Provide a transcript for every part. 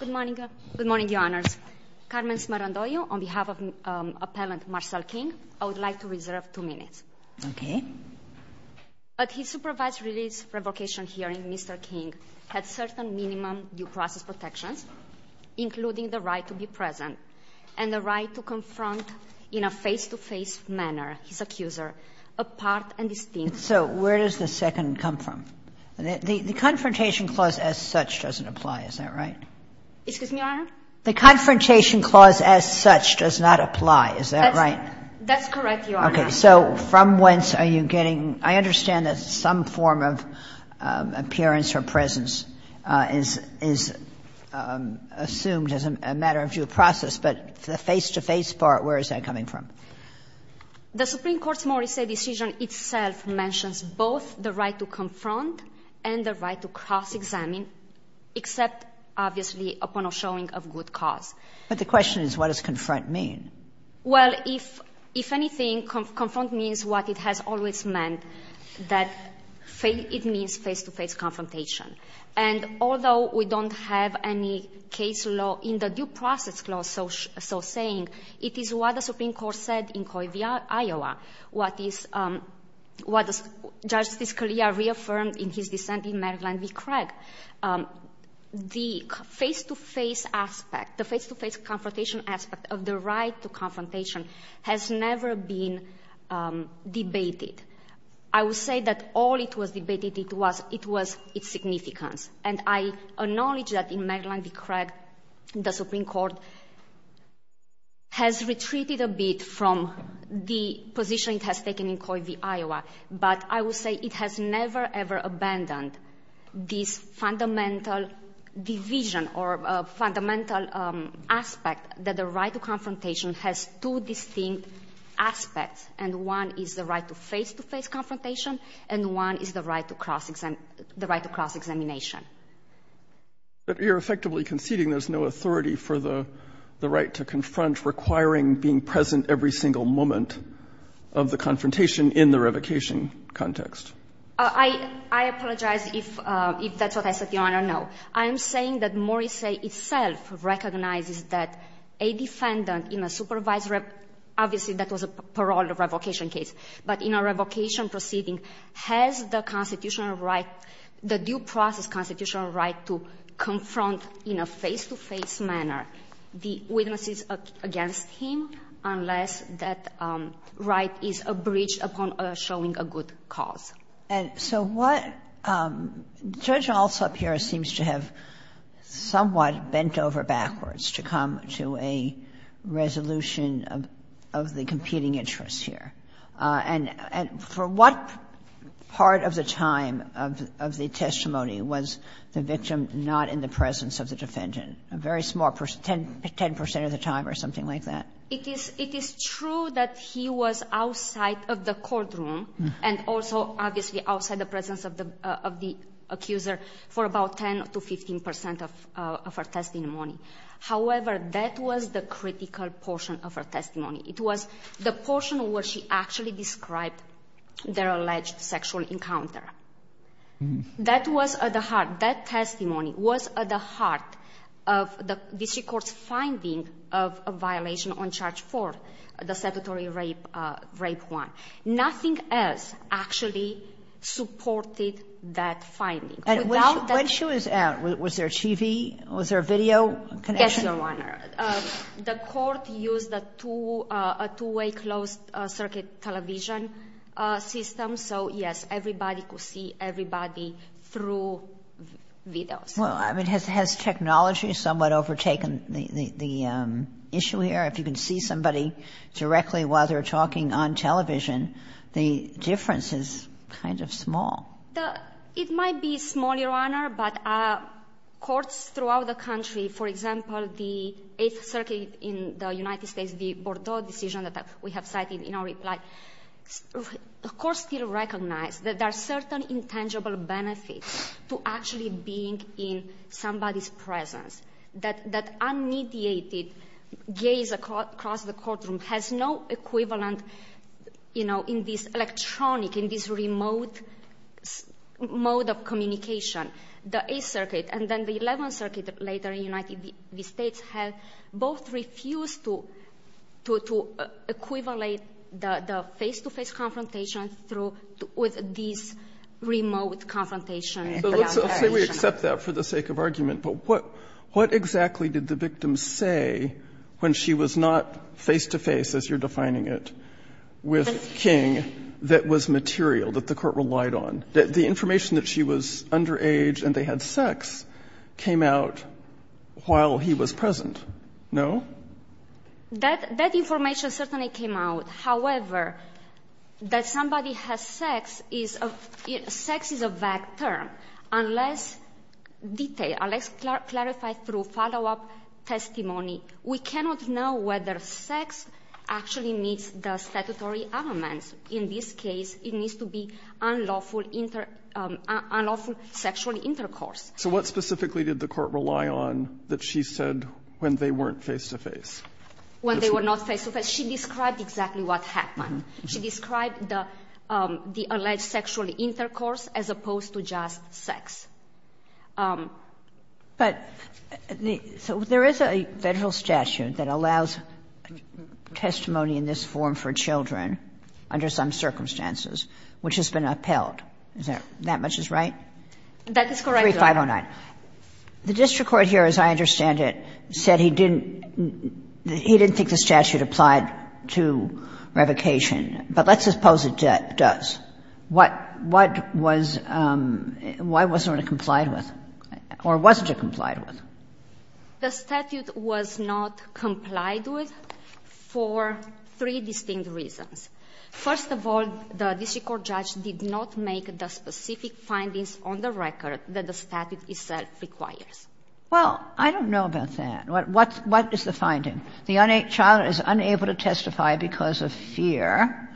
Good morning. Good morning, Your Honors. Carmen Smarandoglio, on behalf of Appellant Marcel King, I would like to reserve two minutes. Okay. But his supervised release revocation hearing, Mr. King had certain minimum due process protections, including the right to be present and the right to confront in a face-to-face manner his accuser, apart and distinct. So where does the second come from? The confrontation clause as such doesn't apply, is that right? Excuse me, Your Honor? The confrontation clause as such does not apply, is that right? That's correct, Your Honor. Okay. So from whence are you getting – I understand that some form of appearance or presence is assumed as a matter of due process, but the face-to-face part, where is that coming from? The Supreme Court's Morrissey decision itself mentions both the right to confront and the right to cross-examine except, obviously, upon a showing of good cause. But the question is, what does confront mean? Well, if anything, confront means what it has always meant, that it means face-to-face confrontation. And although we don't have any case law in the due process clause so saying, it is what the Supreme Court said in Coyvill, Iowa, what Justice Scalia reaffirmed in his dissent in Maryland v. Craig, the face-to-face aspect, the face-to-face confrontation aspect of the right to confrontation has never been debated. I will say that all it was debated, it was its significance. And I acknowledge that in Maryland v. Craig, the Supreme Court has retreated a bit from the position it has taken in Coyvill, Iowa. But I will say it has never, ever abandoned this fundamental division or fundamental aspect that the right to confrontation has two distinct aspects. And one is the right to face-to-face confrontation, and one is the right to cross-examine the right to cross-examination. But you're effectively conceding there's no authority for the right to confront requiring being present every single moment of the confrontation in the revocation context. I apologize if that's what I said, Your Honor. No. I'm saying that Morisse itself recognizes that a defendant in a supervised rev – obviously, that was a parole revocation case. But in a revocation proceeding, has the constitutional right, the due process constitutional right to confront in a face-to-face manner the witnesses against him, unless that right is a bridge upon showing a good example. And so what – Judge Alsop here seems to have somewhat bent over backwards to come to a resolution of the competing interests here. And for what part of the time of the testimony was the victim not in the presence of the defendant, a very small – 10 percent of the time or something like that? It is true that he was outside of the courtroom and also obviously outside the presence of the accuser for about 10 to 15 percent of her testimony. However, that was the critical portion of her testimony. It was the portion where she actually described their alleged sexual encounter. That was at the heart – that testimony was at the heart of the district court's finding of a violation on Charge 4, the sedentary rape one. Nothing else actually supported that finding. And when she was out, was there a TV, was there a video connection? Yes, Your Honor. The court used a two-way closed circuit television system. So, yes, everybody could see everybody through videos. Well, I mean, has technology somewhat overtaken the issue here? If you can see somebody directly while they're talking on television, the difference is kind of small. It might be small, Your Honor, but courts throughout the country, for example, the Eighth Circuit in the United States, the Bordeaux decision that we have cited in our reply, of course still recognize that there are certain intangible benefits to actually being in somebody's presence. That unmediated gaze across the courtroom has no equivalent, you know, in this electronic, in this remote mode of communication. The Eighth Circuit and then the Eleventh Circuit later in the United States have both refused to equivalent the face-to-face confrontation with this remote confrontation. But let's say we accept that for the sake of argument. But what exactly did the victim say when she was not face-to-face, as you're defining it, with King that was material, that the court relied on? The information that she was underage and they had sex came out while he was present. No? That information certainly came out. However, that somebody has sex is a vector unless detailed, unless clarified through follow-up testimony. We cannot know whether sex actually meets the statutory elements. In this case, it needs to be unlawful sexual intercourse. So what specifically did the court rely on that she said when they weren't face-to-face? When they were not face-to-face, she described exactly what happened. She described the alleged sexual intercourse as opposed to just sex. But there is a Federal statute that allows testimony in this form for children under some circumstances, which has been upheld. Is that much is right? That is correct, Your Honor. 3509. The district court here, as I understand it, said he didn't think the statute applied to revocation, but let's suppose it does. What was why wasn't it complied with or wasn't it complied with? The statute was not complied with for three distinct reasons. First of all, the district court judge did not make the specific findings on the record that the statute itself requires. Well, I don't know about that. What is the finding? The child is unable to testify because of fear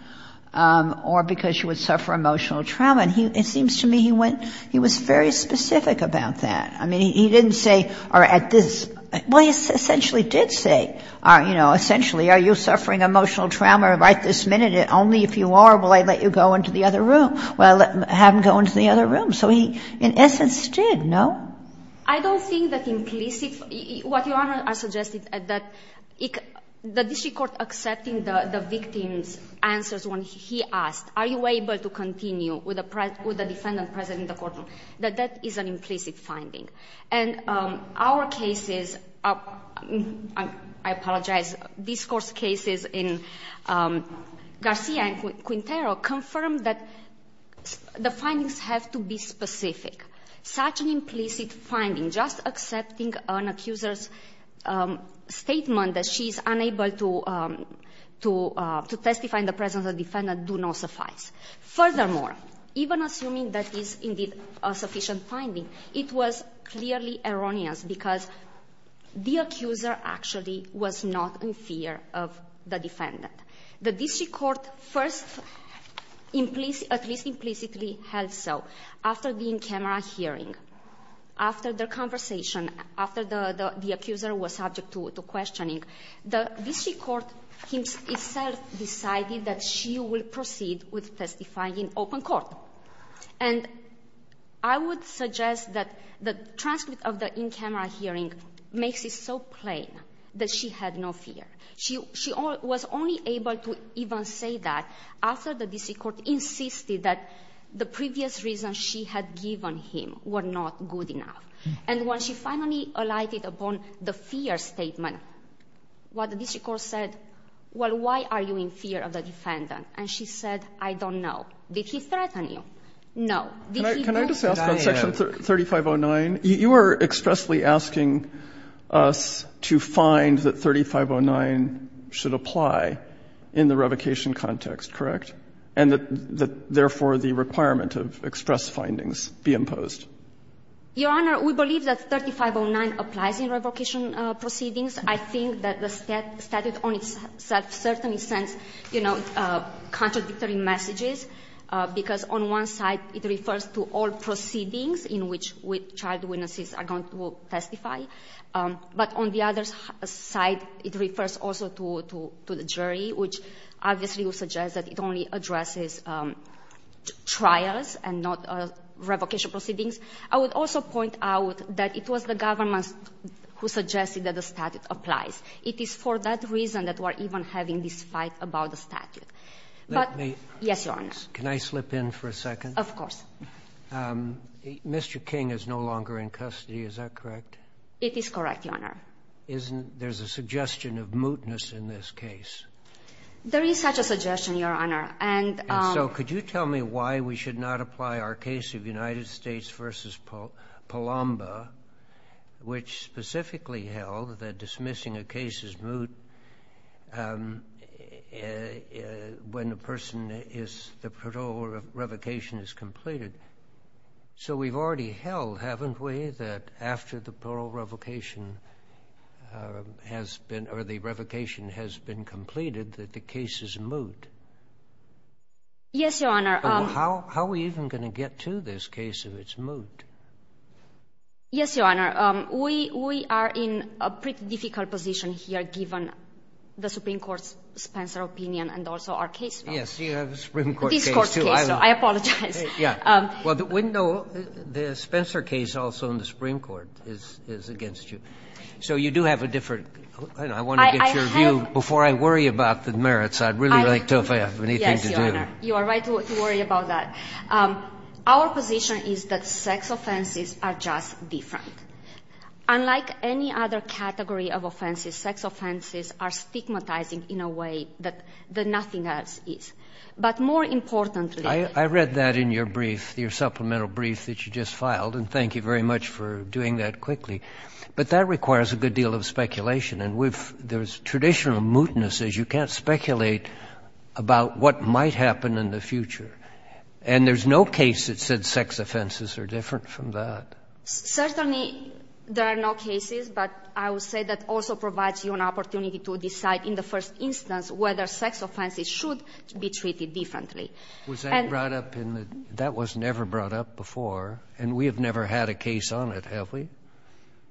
or because she would suffer emotional trauma, and it seems to me he went he was very specific about that. I mean, he didn't say, or at this, well, he essentially did say, you know, essentially are you suffering emotional trauma right this minute, and only if you are will I let you go into the other room. Well, have him go into the other room. So he, in essence, did, no? I don't think that implicit, what Your Honor has suggested, that the district court accepting the victim's answers when he asked, are you able to continue with the defendant present in the courtroom, that that is an implicit finding. And our cases, I apologize, discourse cases in Garcia and Quintero confirmed that the findings have to be specific. Such an implicit finding, just accepting an accuser's statement that she is unable to testify in the presence of the defendant, do not suffice. Furthermore, even assuming that is indeed a sufficient finding, it was clearly erroneous because the accuser actually was not in fear of the defendant. The district court first at least implicitly held so. After the in-camera hearing, after the conversation, after the accuser was subject to questioning, the district court itself decided that she will proceed with testifying in open court. And I would suggest that the transcript of the in-camera hearing makes it so plain that she had no fear. She was only able to even say that after the district court insisted that the previous reasons she had given him were not good enough. And when she finally alighted upon the fear statement, what the district court said, well, why are you in fear of the defendant? And she said, I don't know. Did he threaten you? No. Did he not? I'm just asking. But section 3509, you are expressly asking us to find that 3509 should apply in the revocation context, correct? And that therefore, the requirement of express findings be imposed? Your Honor, we believe that 3509 applies in revocation proceedings. I think that the statute on itself certainly sends, you know, contradictory messages, because on one side, it refers to all proceedings in which child witnesses are going to testify. But on the other side, it refers also to the jury, which obviously would suggest that it only addresses trials and not revocation proceedings. I would also point out that it was the government who suggested that the statute applies. It is for that reason that we are even having this fight about the statute. But yes, Your Honor. Can I slip in for a second? Of course. Mr. King is no longer in custody, is that correct? It is correct, Your Honor. Isn't there's a suggestion of mootness in this case? There is such a suggestion, Your Honor. And so could you tell me why we should not apply our case of United States v. Palomba, which specifically held that dismissing a case is moot, when the person is, the parole revocation is completed? So we've already held, haven't we, that after the parole revocation has been, or the revocation has been completed, that the case is moot? Yes, Your Honor. How are we even going to get to this case if it's moot? Yes, Your Honor. We are in a pretty difficult position here, given the Supreme Court's Spencer opinion and also our case file. Yes, you have a Supreme Court case, too. This Court's case, so I apologize. Yes. Well, the window, the Spencer case also in the Supreme Court is against you. So you do have a different, I want to get your view before I worry about the merits. I'd really like to, if I have anything to do. Yes, Your Honor. You are right to worry about that. Our position is that sex offenses are just different. Unlike any other category of offenses, sex offenses are stigmatizing in a way that nothing else is. But more importantly— I read that in your brief, your supplemental brief that you just filed, and thank you very much for doing that quickly. But that requires a good deal of speculation. And there's traditional mootnesses. You can't speculate about what might happen in the future. And there's no case that said sex offenses are different from that. Certainly, there are no cases. But I will say that also provides you an opportunity to decide in the first instance whether sex offenses should be treated differently. Was that brought up in the—that was never brought up before, and we have never had a case on it, have we?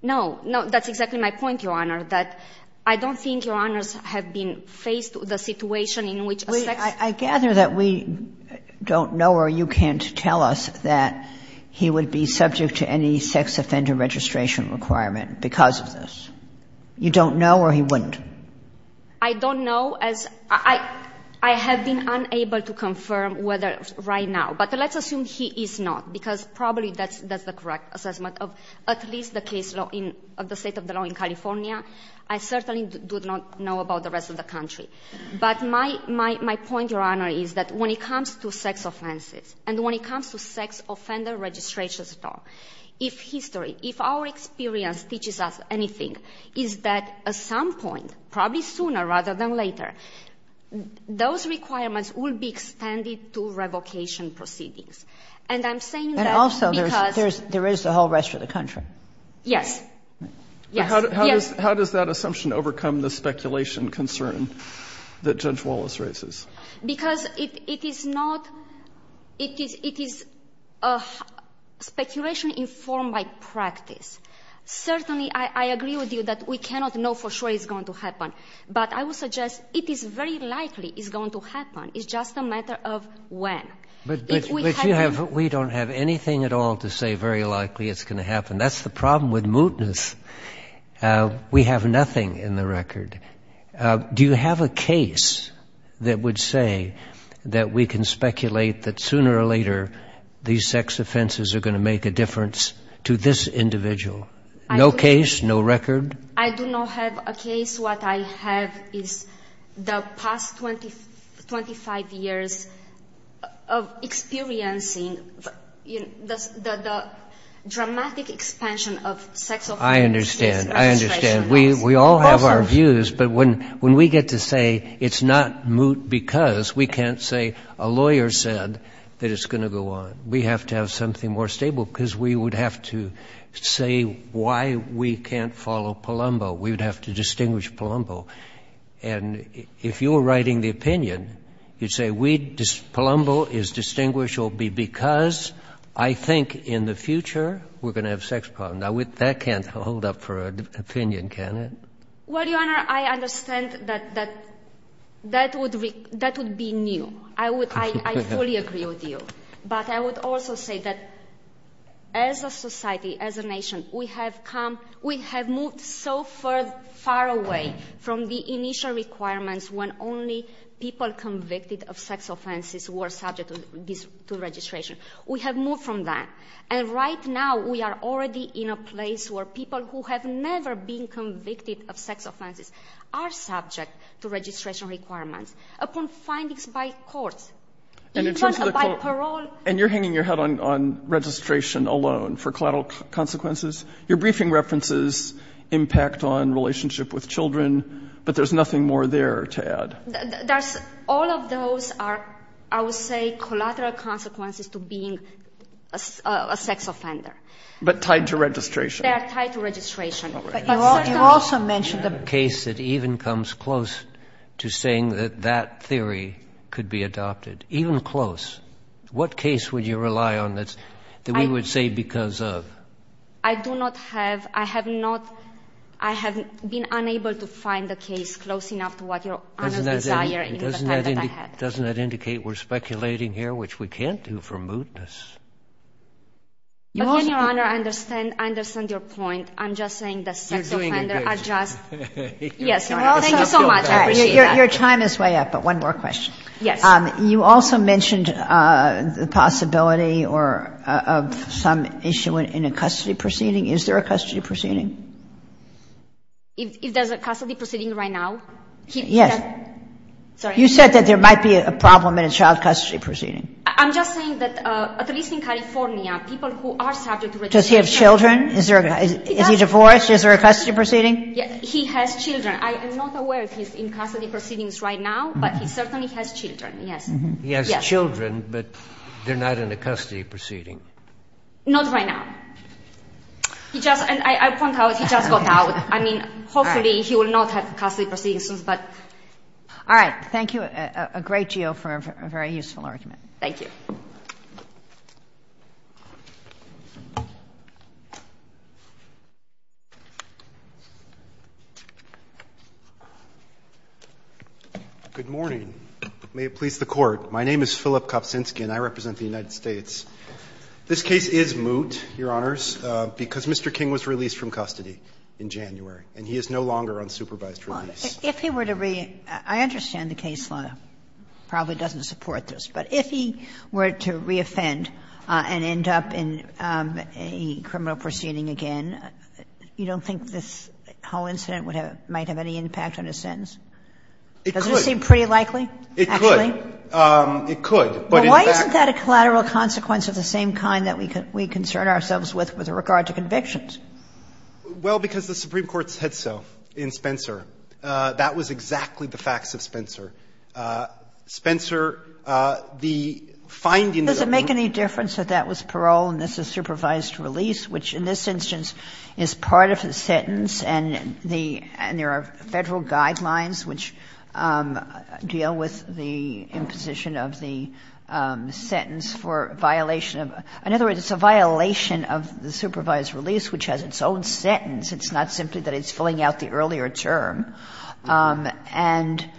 No. No, that's exactly my point, Your Honor, that I don't think Your Honors have been faced with a situation in which a sex— I don't know as—I have been unable to confirm whether right now, but let's assume he is not, because probably that's the correct assessment of at least the case law in—of the state of the law in California. I certainly do not know about the rest of the country. But my point, Your Honor, is that when it comes to sex offenses and when it comes to if history, if our experience teaches us anything, is that at some point, probably sooner rather than later, those requirements will be extended to revocation proceedings. And I'm saying that because— And also, there's—there is the whole rest of the country. Yes. Yes. Yes. How does that assumption overcome the speculation concern that Judge Wallace raises? Because it is not—it is—it is a speculation informed by practice. Certainly, I agree with you that we cannot know for sure it's going to happen. But I will suggest it is very likely it's going to happen. It's just a matter of when. If we have— But you have—we don't have anything at all to say very likely it's going to happen. That's the problem with mootness. We have nothing in the record. Do you have a case that would say that we can speculate that sooner or later these sex offenses are going to make a difference to this individual? No case? No record? I do not have a case. What I have is the past 25 years of experiencing the dramatic expansion of sex offense registration laws. I understand. I understand. We all have our views. But when we get to say it's not moot because, we can't say a lawyer said that it's going to go on. We have to have something more stable because we would have to say why we can't follow Palumbo. We would have to distinguish Palumbo. And if you were writing the opinion, you'd say Palumbo is distinguished because I think in the future we're going to have sex problems. That can't hold up for an opinion, can it? Well, Your Honor, I understand that that would be new. I fully agree with you. But I would also say that as a society, as a nation, we have moved so far away from the initial requirements when only people convicted of sex offenses were subject to registration. We have moved from that. And right now we are already in a place where people who have never been convicted of sex offenses are subject to registration requirements upon findings by courts. By parole. And you're hanging your head on registration alone for collateral consequences? Your briefing references impact on relationship with children, but there's nothing more there to add. All of those are, I would say, collateral consequences to being a sex offender. But tied to registration. They are tied to registration. But you also mentioned a case that even comes close to saying that that theory could be adopted. Even close. What case would you rely on that we would say because of? I do not have. I have not. I have been unable to find a case close enough to what Your Honor's desire in the time that I had. Doesn't that indicate we're speculating here, which we can't do for mootness? But, again, Your Honor, I understand your point. I'm just saying that sex offenders are just. You're doing a great job. Yes. Thank you so much. I appreciate that. Your time is way up, but one more question. Yes. You also mentioned the possibility of some issue in a custody proceeding. Is there a custody proceeding? If there's a custody proceeding right now? Yes. You said that there might be a problem in a child custody proceeding. I'm just saying that at least in California, people who are subject to registration. Does he have children? Is he divorced? Is there a custody proceeding? He has children. I am not aware if he's in custody proceedings right now, but he certainly has children. Yes. He has children, but they're not in a custody proceeding. Not right now. I point out he just got out. I mean, hopefully he will not have custody proceedings soon. All right. Thank you a great deal for a very useful argument. Thank you. Good morning. May it please the Court. My name is Philip Kopczynski and I represent the United States. This case is moot, Your Honors, because Mr. King was released from custody in January and he is no longer on supervised release. If he were to re-I understand the case law probably doesn't support this, but if he were to re-offend and end up in a criminal proceeding again, you don't think this whole incident might have any impact on his sentence? It could. Does it seem pretty likely, actually? It could. It could, but in fact. Well, why isn't that a collateral consequence of the same kind that we concern ourselves with with regard to convictions? Well, because the Supreme Court said so in Spencer. That was exactly the facts of Spencer. Spencer, the findings of the court. Does it make any difference that that was parole and this is supervised release, which in this instance is part of the sentence and there are Federal guidelines which deal with the imposition of the sentence for violation of, in other words, it's a violation of the supervised release, which has its own sentence. It's not simply that it's filling out the earlier term and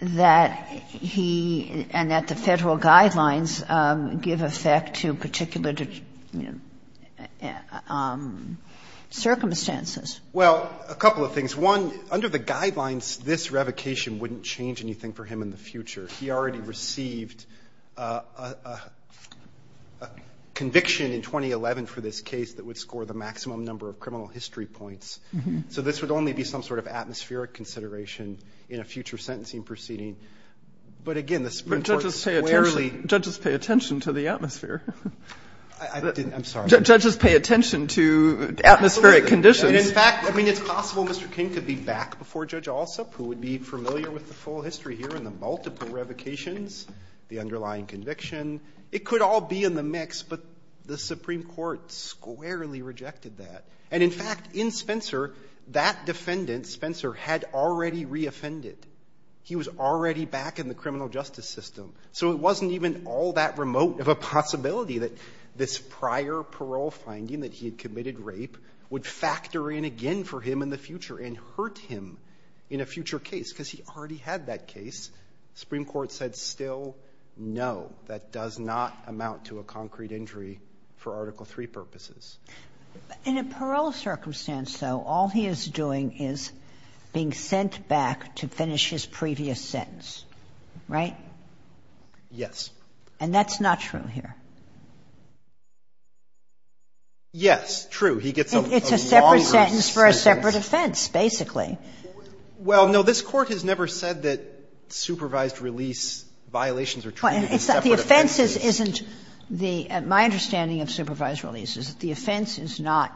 that he and that the Federal guidelines give effect to particular circumstances. Well, a couple of things. One, under the guidelines, this revocation wouldn't change anything for him in the future. He already received a conviction in 2011 for this case that would score the maximum number of criminal history points. So this would only be some sort of atmospheric consideration in a future sentencing proceeding. But again, the Supreme Court squarely. But judges pay attention to the atmosphere. I'm sorry. Judges pay attention to atmospheric conditions. And in fact, I mean, it's possible Mr. King could be back before Judge Alsop, who would be familiar with the full history here and the multiple revocations, the underlying conviction. It could all be in the mix, but the Supreme Court squarely rejected that. And in fact, in Spencer, that defendant, Spencer, had already reoffended. He was already back in the criminal justice system. So it wasn't even all that remote of a possibility that this prior parole finding that he had committed rape would factor in again for him in the future and hurt him in a future case, because he already had that case. The Supreme Court said still no, that does not amount to a concrete injury for Article III purposes. In a parole circumstance, though, all he is doing is being sent back to finish his previous sentence, right? Yes. And that's not true here. Yes, true. He gets a longer sentence. It's a separate sentence for a separate offense, basically. The offense isn't the – my understanding of supervised release is that the offense is not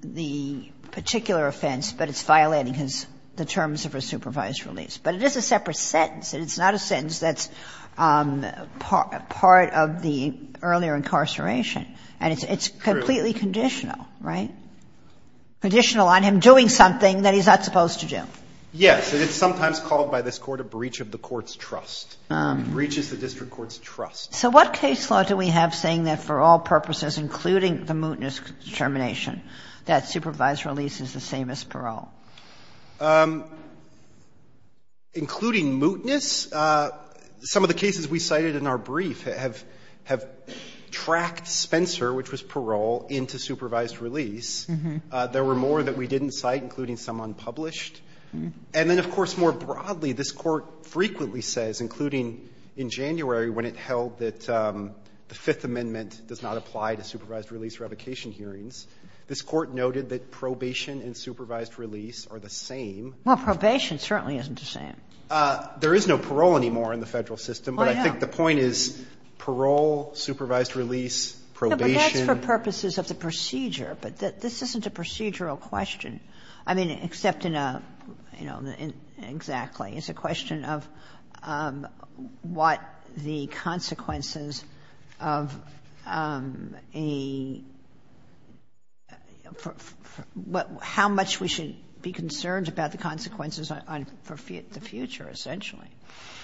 the particular offense, but it's violating his – the terms of a supervised release. But it is a separate sentence, and it's not a sentence that's part of the earlier incarceration. And it's completely conditional, right? Conditional on him doing something that he's not supposed to do. Yes. And it's sometimes called by this Court a breach of the court's trust. It breaches the district court's trust. So what case law do we have saying that for all purposes, including the mootness determination, that supervised release is the same as parole? Including mootness? Some of the cases we cited in our brief have tracked Spencer, which was parole, into supervised release. There were more that we didn't cite, including some unpublished. And then, of course, more broadly, this Court frequently says, including in January when it held that the Fifth Amendment does not apply to supervised release revocation hearings, this Court noted that probation and supervised release are the same. Well, probation certainly isn't the same. There is no parole anymore in the Federal system. Oh, yeah. But I think the point is parole, supervised release, probation. No, but that's for purposes of the procedure. But this isn't a procedural question. I mean, except in a, you know, exactly. It's a question of what the consequences of a — how much we should be concerned about the consequences on the future, essentially.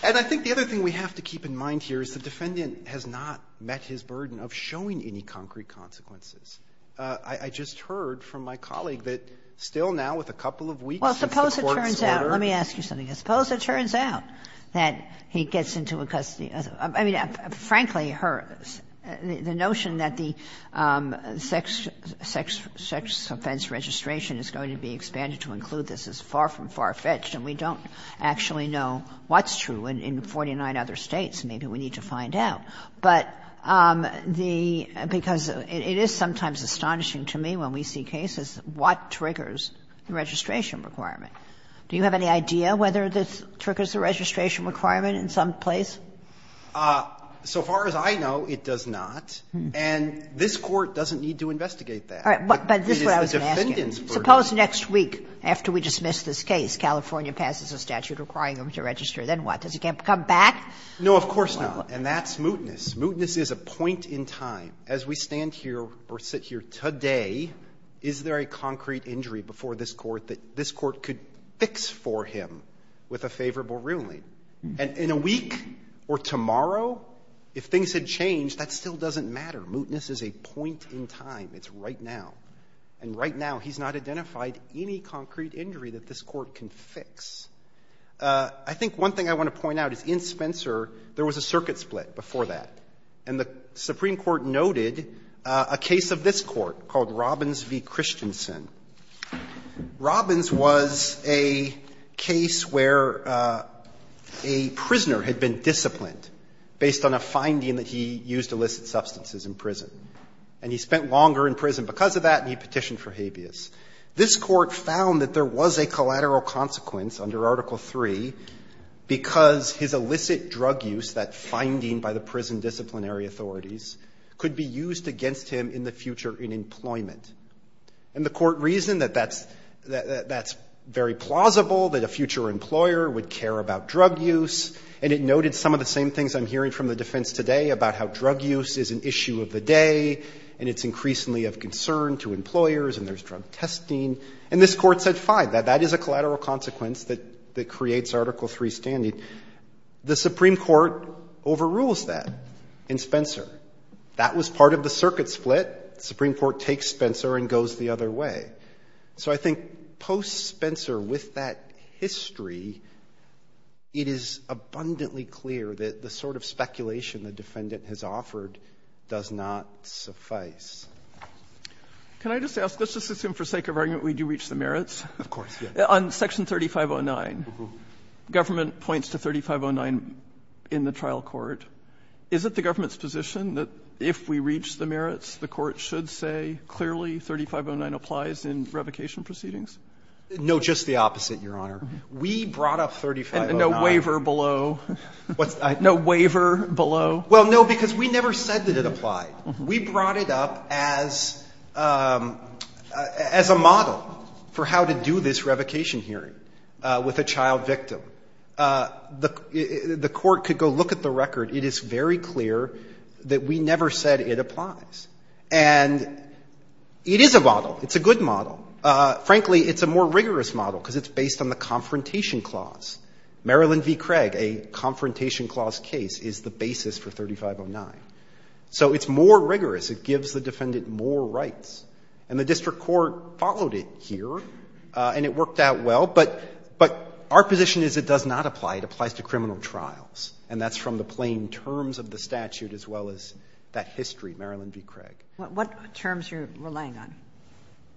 And I think the other thing we have to keep in mind here is the defendant has not met his burden of showing any concrete consequences. I just heard from my colleague that still now, with a couple of weeks since the Court's order — Well, suppose it turns out — let me ask you something. Suppose it turns out that he gets into a custody — I mean, frankly, the notion that the sex offense registration is going to be expanded to include this is far from far-fetched, and we don't actually know what's true in 49 other States. Maybe we need to find out. But the — because it is sometimes astonishing to me when we see cases what triggers the registration requirement. Do you have any idea whether this triggers a registration requirement in some place? So far as I know, it does not. And this Court doesn't need to investigate that. But this is what I was asking. But it's the defendant's burden. Suppose next week, after we dismiss this case, California passes a statute requiring him to register, then what? Does he come back? No, of course not. And that's mootness. Mootness is a point in time. As we stand here or sit here today, is there a concrete injury before this Court that this Court could fix for him with a favorable ruling? And in a week or tomorrow, if things had changed, that still doesn't matter. Mootness is a point in time. It's right now. And right now, he's not identified any concrete injury that this Court can fix. I think one thing I want to point out is in Spencer, there was a circuit split before that, and the Supreme Court noted a case of this Court called Robbins v. Christensen. Robbins was a case where a prisoner had been disciplined based on a finding that he used illicit substances in prison. And he spent longer in prison because of that, and he petitioned for habeas. This Court found that there was a collateral consequence under Article 3 because his illicit drug use, that finding by the prison disciplinary authorities, could be used against him in the future in employment. And the Court reasoned that that's very plausible, that a future employer would care about drug use, and it noted some of the same things I'm hearing from the defense today about how drug use is an issue of the day, and it's increasingly of concern to employers, and there's drug testing. And this Court said, fine, that that is a collateral consequence that creates Article 3 standing. The Supreme Court overrules that in Spencer. That was part of the circuit split. The Supreme Court takes Spencer and goes the other way. So I think post-Spencer, with that history, it is abundantly clear that the sort of Can I just ask, let's just assume for sake of argument we do reach the merits. Of course, yes. On Section 3509, government points to 3509 in the trial court. Is it the government's position that if we reach the merits, the Court should say clearly 3509 applies in revocation proceedings? No, just the opposite, Your Honor. We brought up 3509. And no waiver below. What's that? No waiver below. Well, no, because we never said that it applied. We brought it up as a model for how to do this revocation hearing with a child victim. The Court could go look at the record. It is very clear that we never said it applies. And it is a model. It's a good model. Frankly, it's a more rigorous model because it's based on the Confrontation Clause. Marilyn v. Craig, a Confrontation Clause case, is the basis for 3509. So it's more rigorous. It gives the defendant more rights. And the district court followed it here, and it worked out well. But our position is it does not apply. It applies to criminal trials, and that's from the plain terms of the statute as well as that history, Marilyn v. Craig. What terms are you relying on?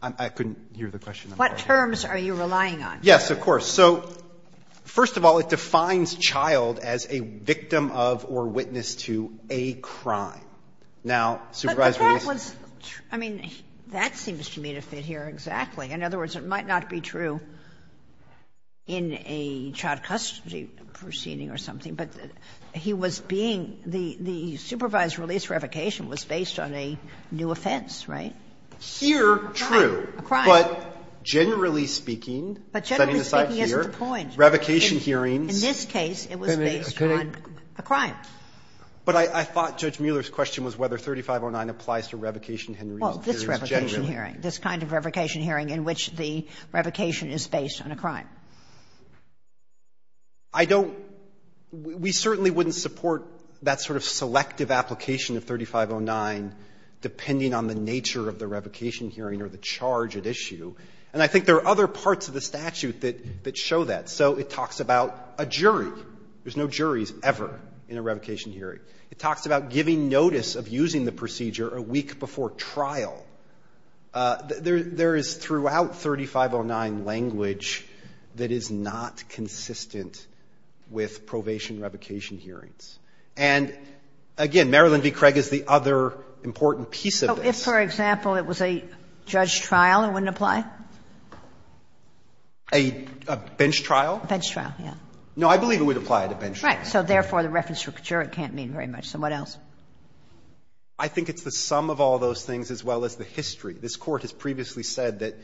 I couldn't hear the question. What terms are you relying on? Yes, of course. So first of all, it defines child as a victim of or witness to a crime. Now, supervised release. But that was true. I mean, that seems to me to fit here exactly. In other words, it might not be true in a child custody proceeding or something, but he was being the supervised release revocation was based on a new offense, right? Here, true. A crime. A crime. But generally speaking, setting aside here, revocation hearings. In this case, it was based on a crime. But I thought Judge Mueller's question was whether 3509 applies to revocation hearings generally. Well, this revocation hearing. This kind of revocation hearing in which the revocation is based on a crime. I don't we certainly wouldn't support that sort of selective application of 3509, depending on the nature of the revocation hearing or the charge at issue. And I think there are other parts of the statute that show that. So it talks about a jury. There's no juries ever in a revocation hearing. It talks about giving notice of using the procedure a week before trial. There is throughout 3509 language that is not consistent with probation revocation hearings. And again, Marilyn v. Craig is the other important piece of this. So if, for example, it was a judge trial, it wouldn't apply? A bench trial? A bench trial, yes. No, I believe it would apply at a bench trial. Right. So therefore, the reference to a juror can't mean very much. So what else? I think it's the sum of all those things as well as the history. This Court has previously said that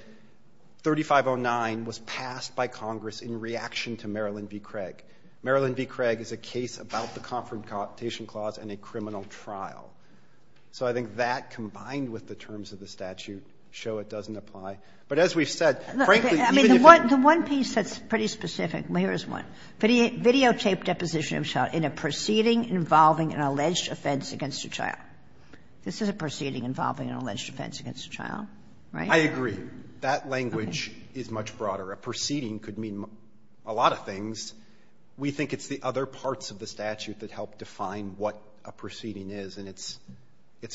3509 was passed by Congress in reaction to Marilyn v. Craig. Marilyn v. Craig is a case about the Comfort and Compensation Clause and a criminal trial. So I think that, combined with the terms of the statute, show it doesn't apply. But as we've said, frankly, even if you're going to do it, it doesn't apply. Kagan. I mean, the one piece that's pretty specific, well, here's one. Videotape deposition of child in a proceeding involving an alleged offense against a child. This is a proceeding involving an alleged offense against a child, right? I agree. That language is much broader. A proceeding could mean a lot of things. We think it's the other parts of the statute that help define what a proceeding is, and it's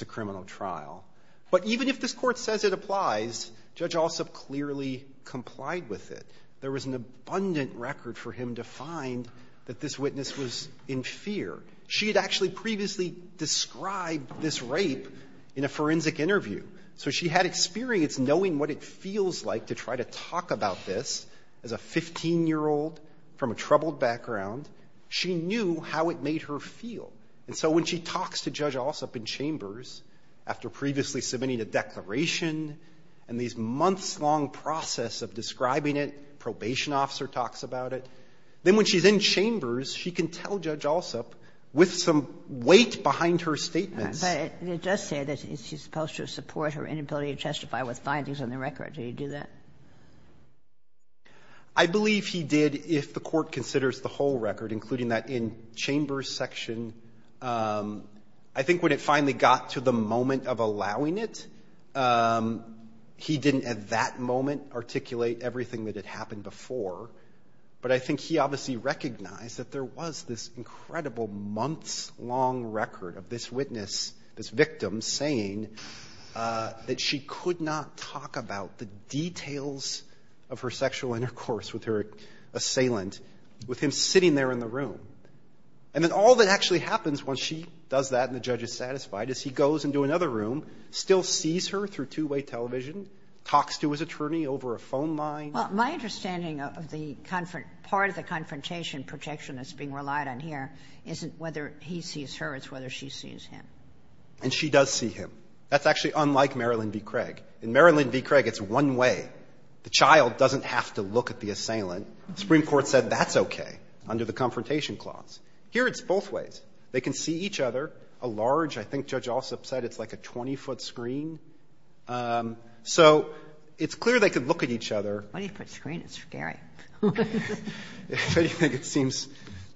a criminal trial. But even if this Court says it applies, Judge Alsop clearly complied with it. There was an abundant record for him to find that this witness was in fear. She had actually previously described this rape in a forensic interview. So she had experience knowing what it feels like to try to talk about this as a 15-year-old from a troubled background. She knew how it made her feel. And so when she talks to Judge Alsop in Chambers after previously submitting a declaration and these months-long process of describing it, probation officer talks about it, then when she's in Chambers, she can tell Judge Alsop with some weight behind her statements. But it does say that she's supposed to support her inability to testify with findings on the record. Did he do that? I believe he did if the Court considers the whole record, including that in Chambers' section. I think when it finally got to the moment of allowing it, he didn't at that moment articulate everything that had happened before. But I think he obviously recognized that there was this incredible months-long record of this witness, this victim, saying that she could not talk about the details of her sexual intercourse with her assailant with him sitting there in the room. And then all that actually happens when she does that and the judge is satisfied is he goes into another room, still sees her through two-way television, talks to his attorney over a phone line. Well, my understanding of the part of the confrontation protection that's being relied on here isn't whether he sees her, it's whether she sees him. And she does see him. That's actually unlike Marilyn v. Craig. In Marilyn v. Craig, it's one way. The child doesn't have to look at the assailant. The Supreme Court said that's okay under the Confrontation Clause. Here it's both ways. They can see each other. A large, I think Judge Ossoff said it's like a 20-foot screen. So it's clear they could look at each other. Kagan. Why do you put screen? It's scary. Why do you think it seems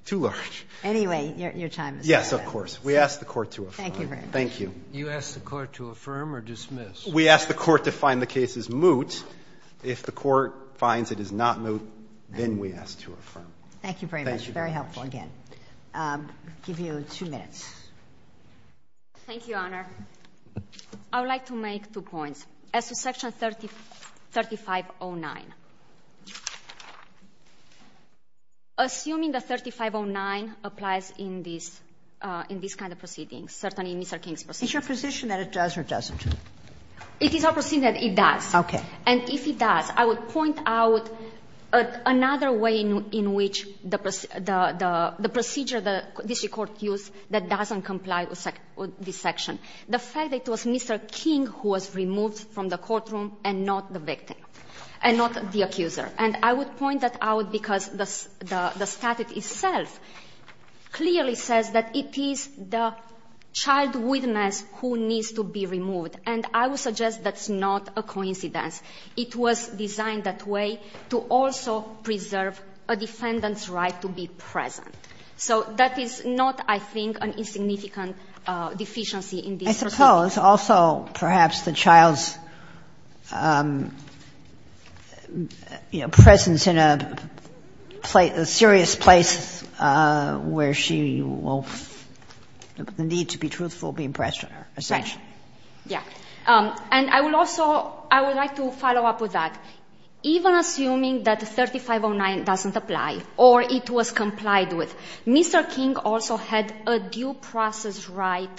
too large? Anyway, your time is up. Yes, of course. We ask the Court to affirm. Thank you very much. Thank you. You ask the Court to affirm or dismiss? We ask the Court to find the case as moot. If the Court finds it is not moot, then we ask to affirm. Thank you very much. Thank you very much. Very helpful again. I'll give you two minutes. Thank you, Your Honor. I would like to make two points. As to Section 3509, assuming that 3509 applies in this kind of proceedings, certainly in Mr. King's proceedings. Is your position that it does or doesn't? It is our position that it does. Okay. And if it does, I would point out another way in which the procedure that this Court used that doesn't comply with this section. The fact that it was Mr. King who was removed from the courtroom and not the victim and not the accuser. And I would point that out because the statute itself clearly says that it is the child witness who needs to be removed. And I would suggest that's not a coincidence. It was designed that way to also preserve a defendant's right to be present. So that is not, I think, an insignificant deficiency in this procedure. I suppose also perhaps the child's, you know, presence in a serious place where she will need to be truthful, be impressed on her. Right. Yeah. And I would also, I would like to follow up with that. Even assuming that 3509 doesn't apply or it was complied with, Mr. King also had a due process right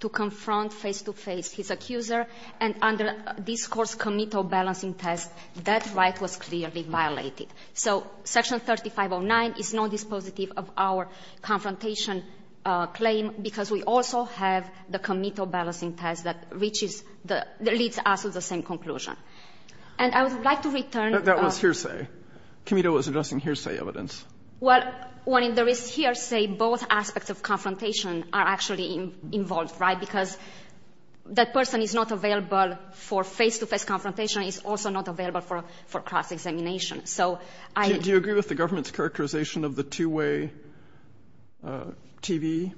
to confront face to face his accuser. And under this Court's committal balancing test, that right was clearly violated. So section 3509 is not dispositive of our confrontation claim because we also have the committal balancing test that reaches, that leads us to the same conclusion. And I would like to return. That was hearsay. Committal was addressing hearsay evidence. Well, when there is hearsay, both aspects of confrontation are actually involved, right, because that person is not available for face to face confrontation. It's also not available for cross-examination. So I. Do you agree with the government's characterization of the two-way TV?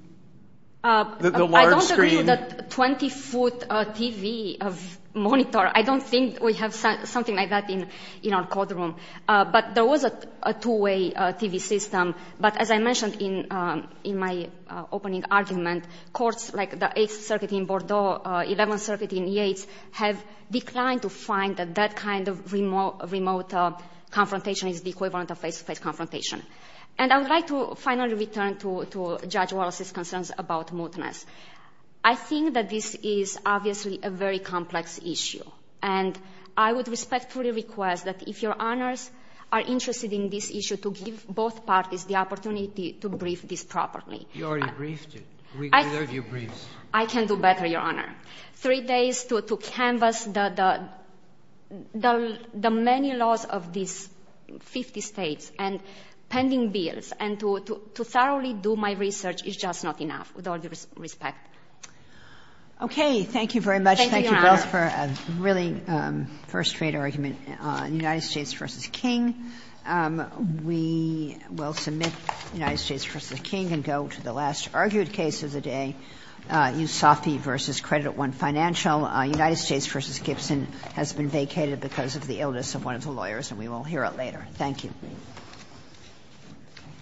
The large screen. I don't agree with the 20-foot TV monitor. I don't think we have something like that in our courtroom. But there was a two-way TV system. But as I mentioned in my opening argument, courts like the 8th Circuit in Bordeaux, 11th Circuit in Yates, have declined to find that that kind of remote confrontation is the equivalent of face to face confrontation. And I would like to finally return to Judge Wallace's concerns about mootness. I think that this is obviously a very complex issue. And I would respectfully request that if Your Honors are interested in this issue, to give both parties the opportunity to brief this properly. You already briefed it. We heard your briefs. I can do better, Your Honor. Three days to canvass the many laws of these 50 states. And pending bills. And to thoroughly do my research is just not enough, with all due respect. Okay. Thank you very much. Thank you both for a really first-rate argument on United States v. King. We will submit United States v. King and go to the last argued case of the day. Yousafi v. Credit One Financial. United States v. Gibson has been vacated because of the illness of one of the lawyers. And we will hear it later. Thank you. Thank you.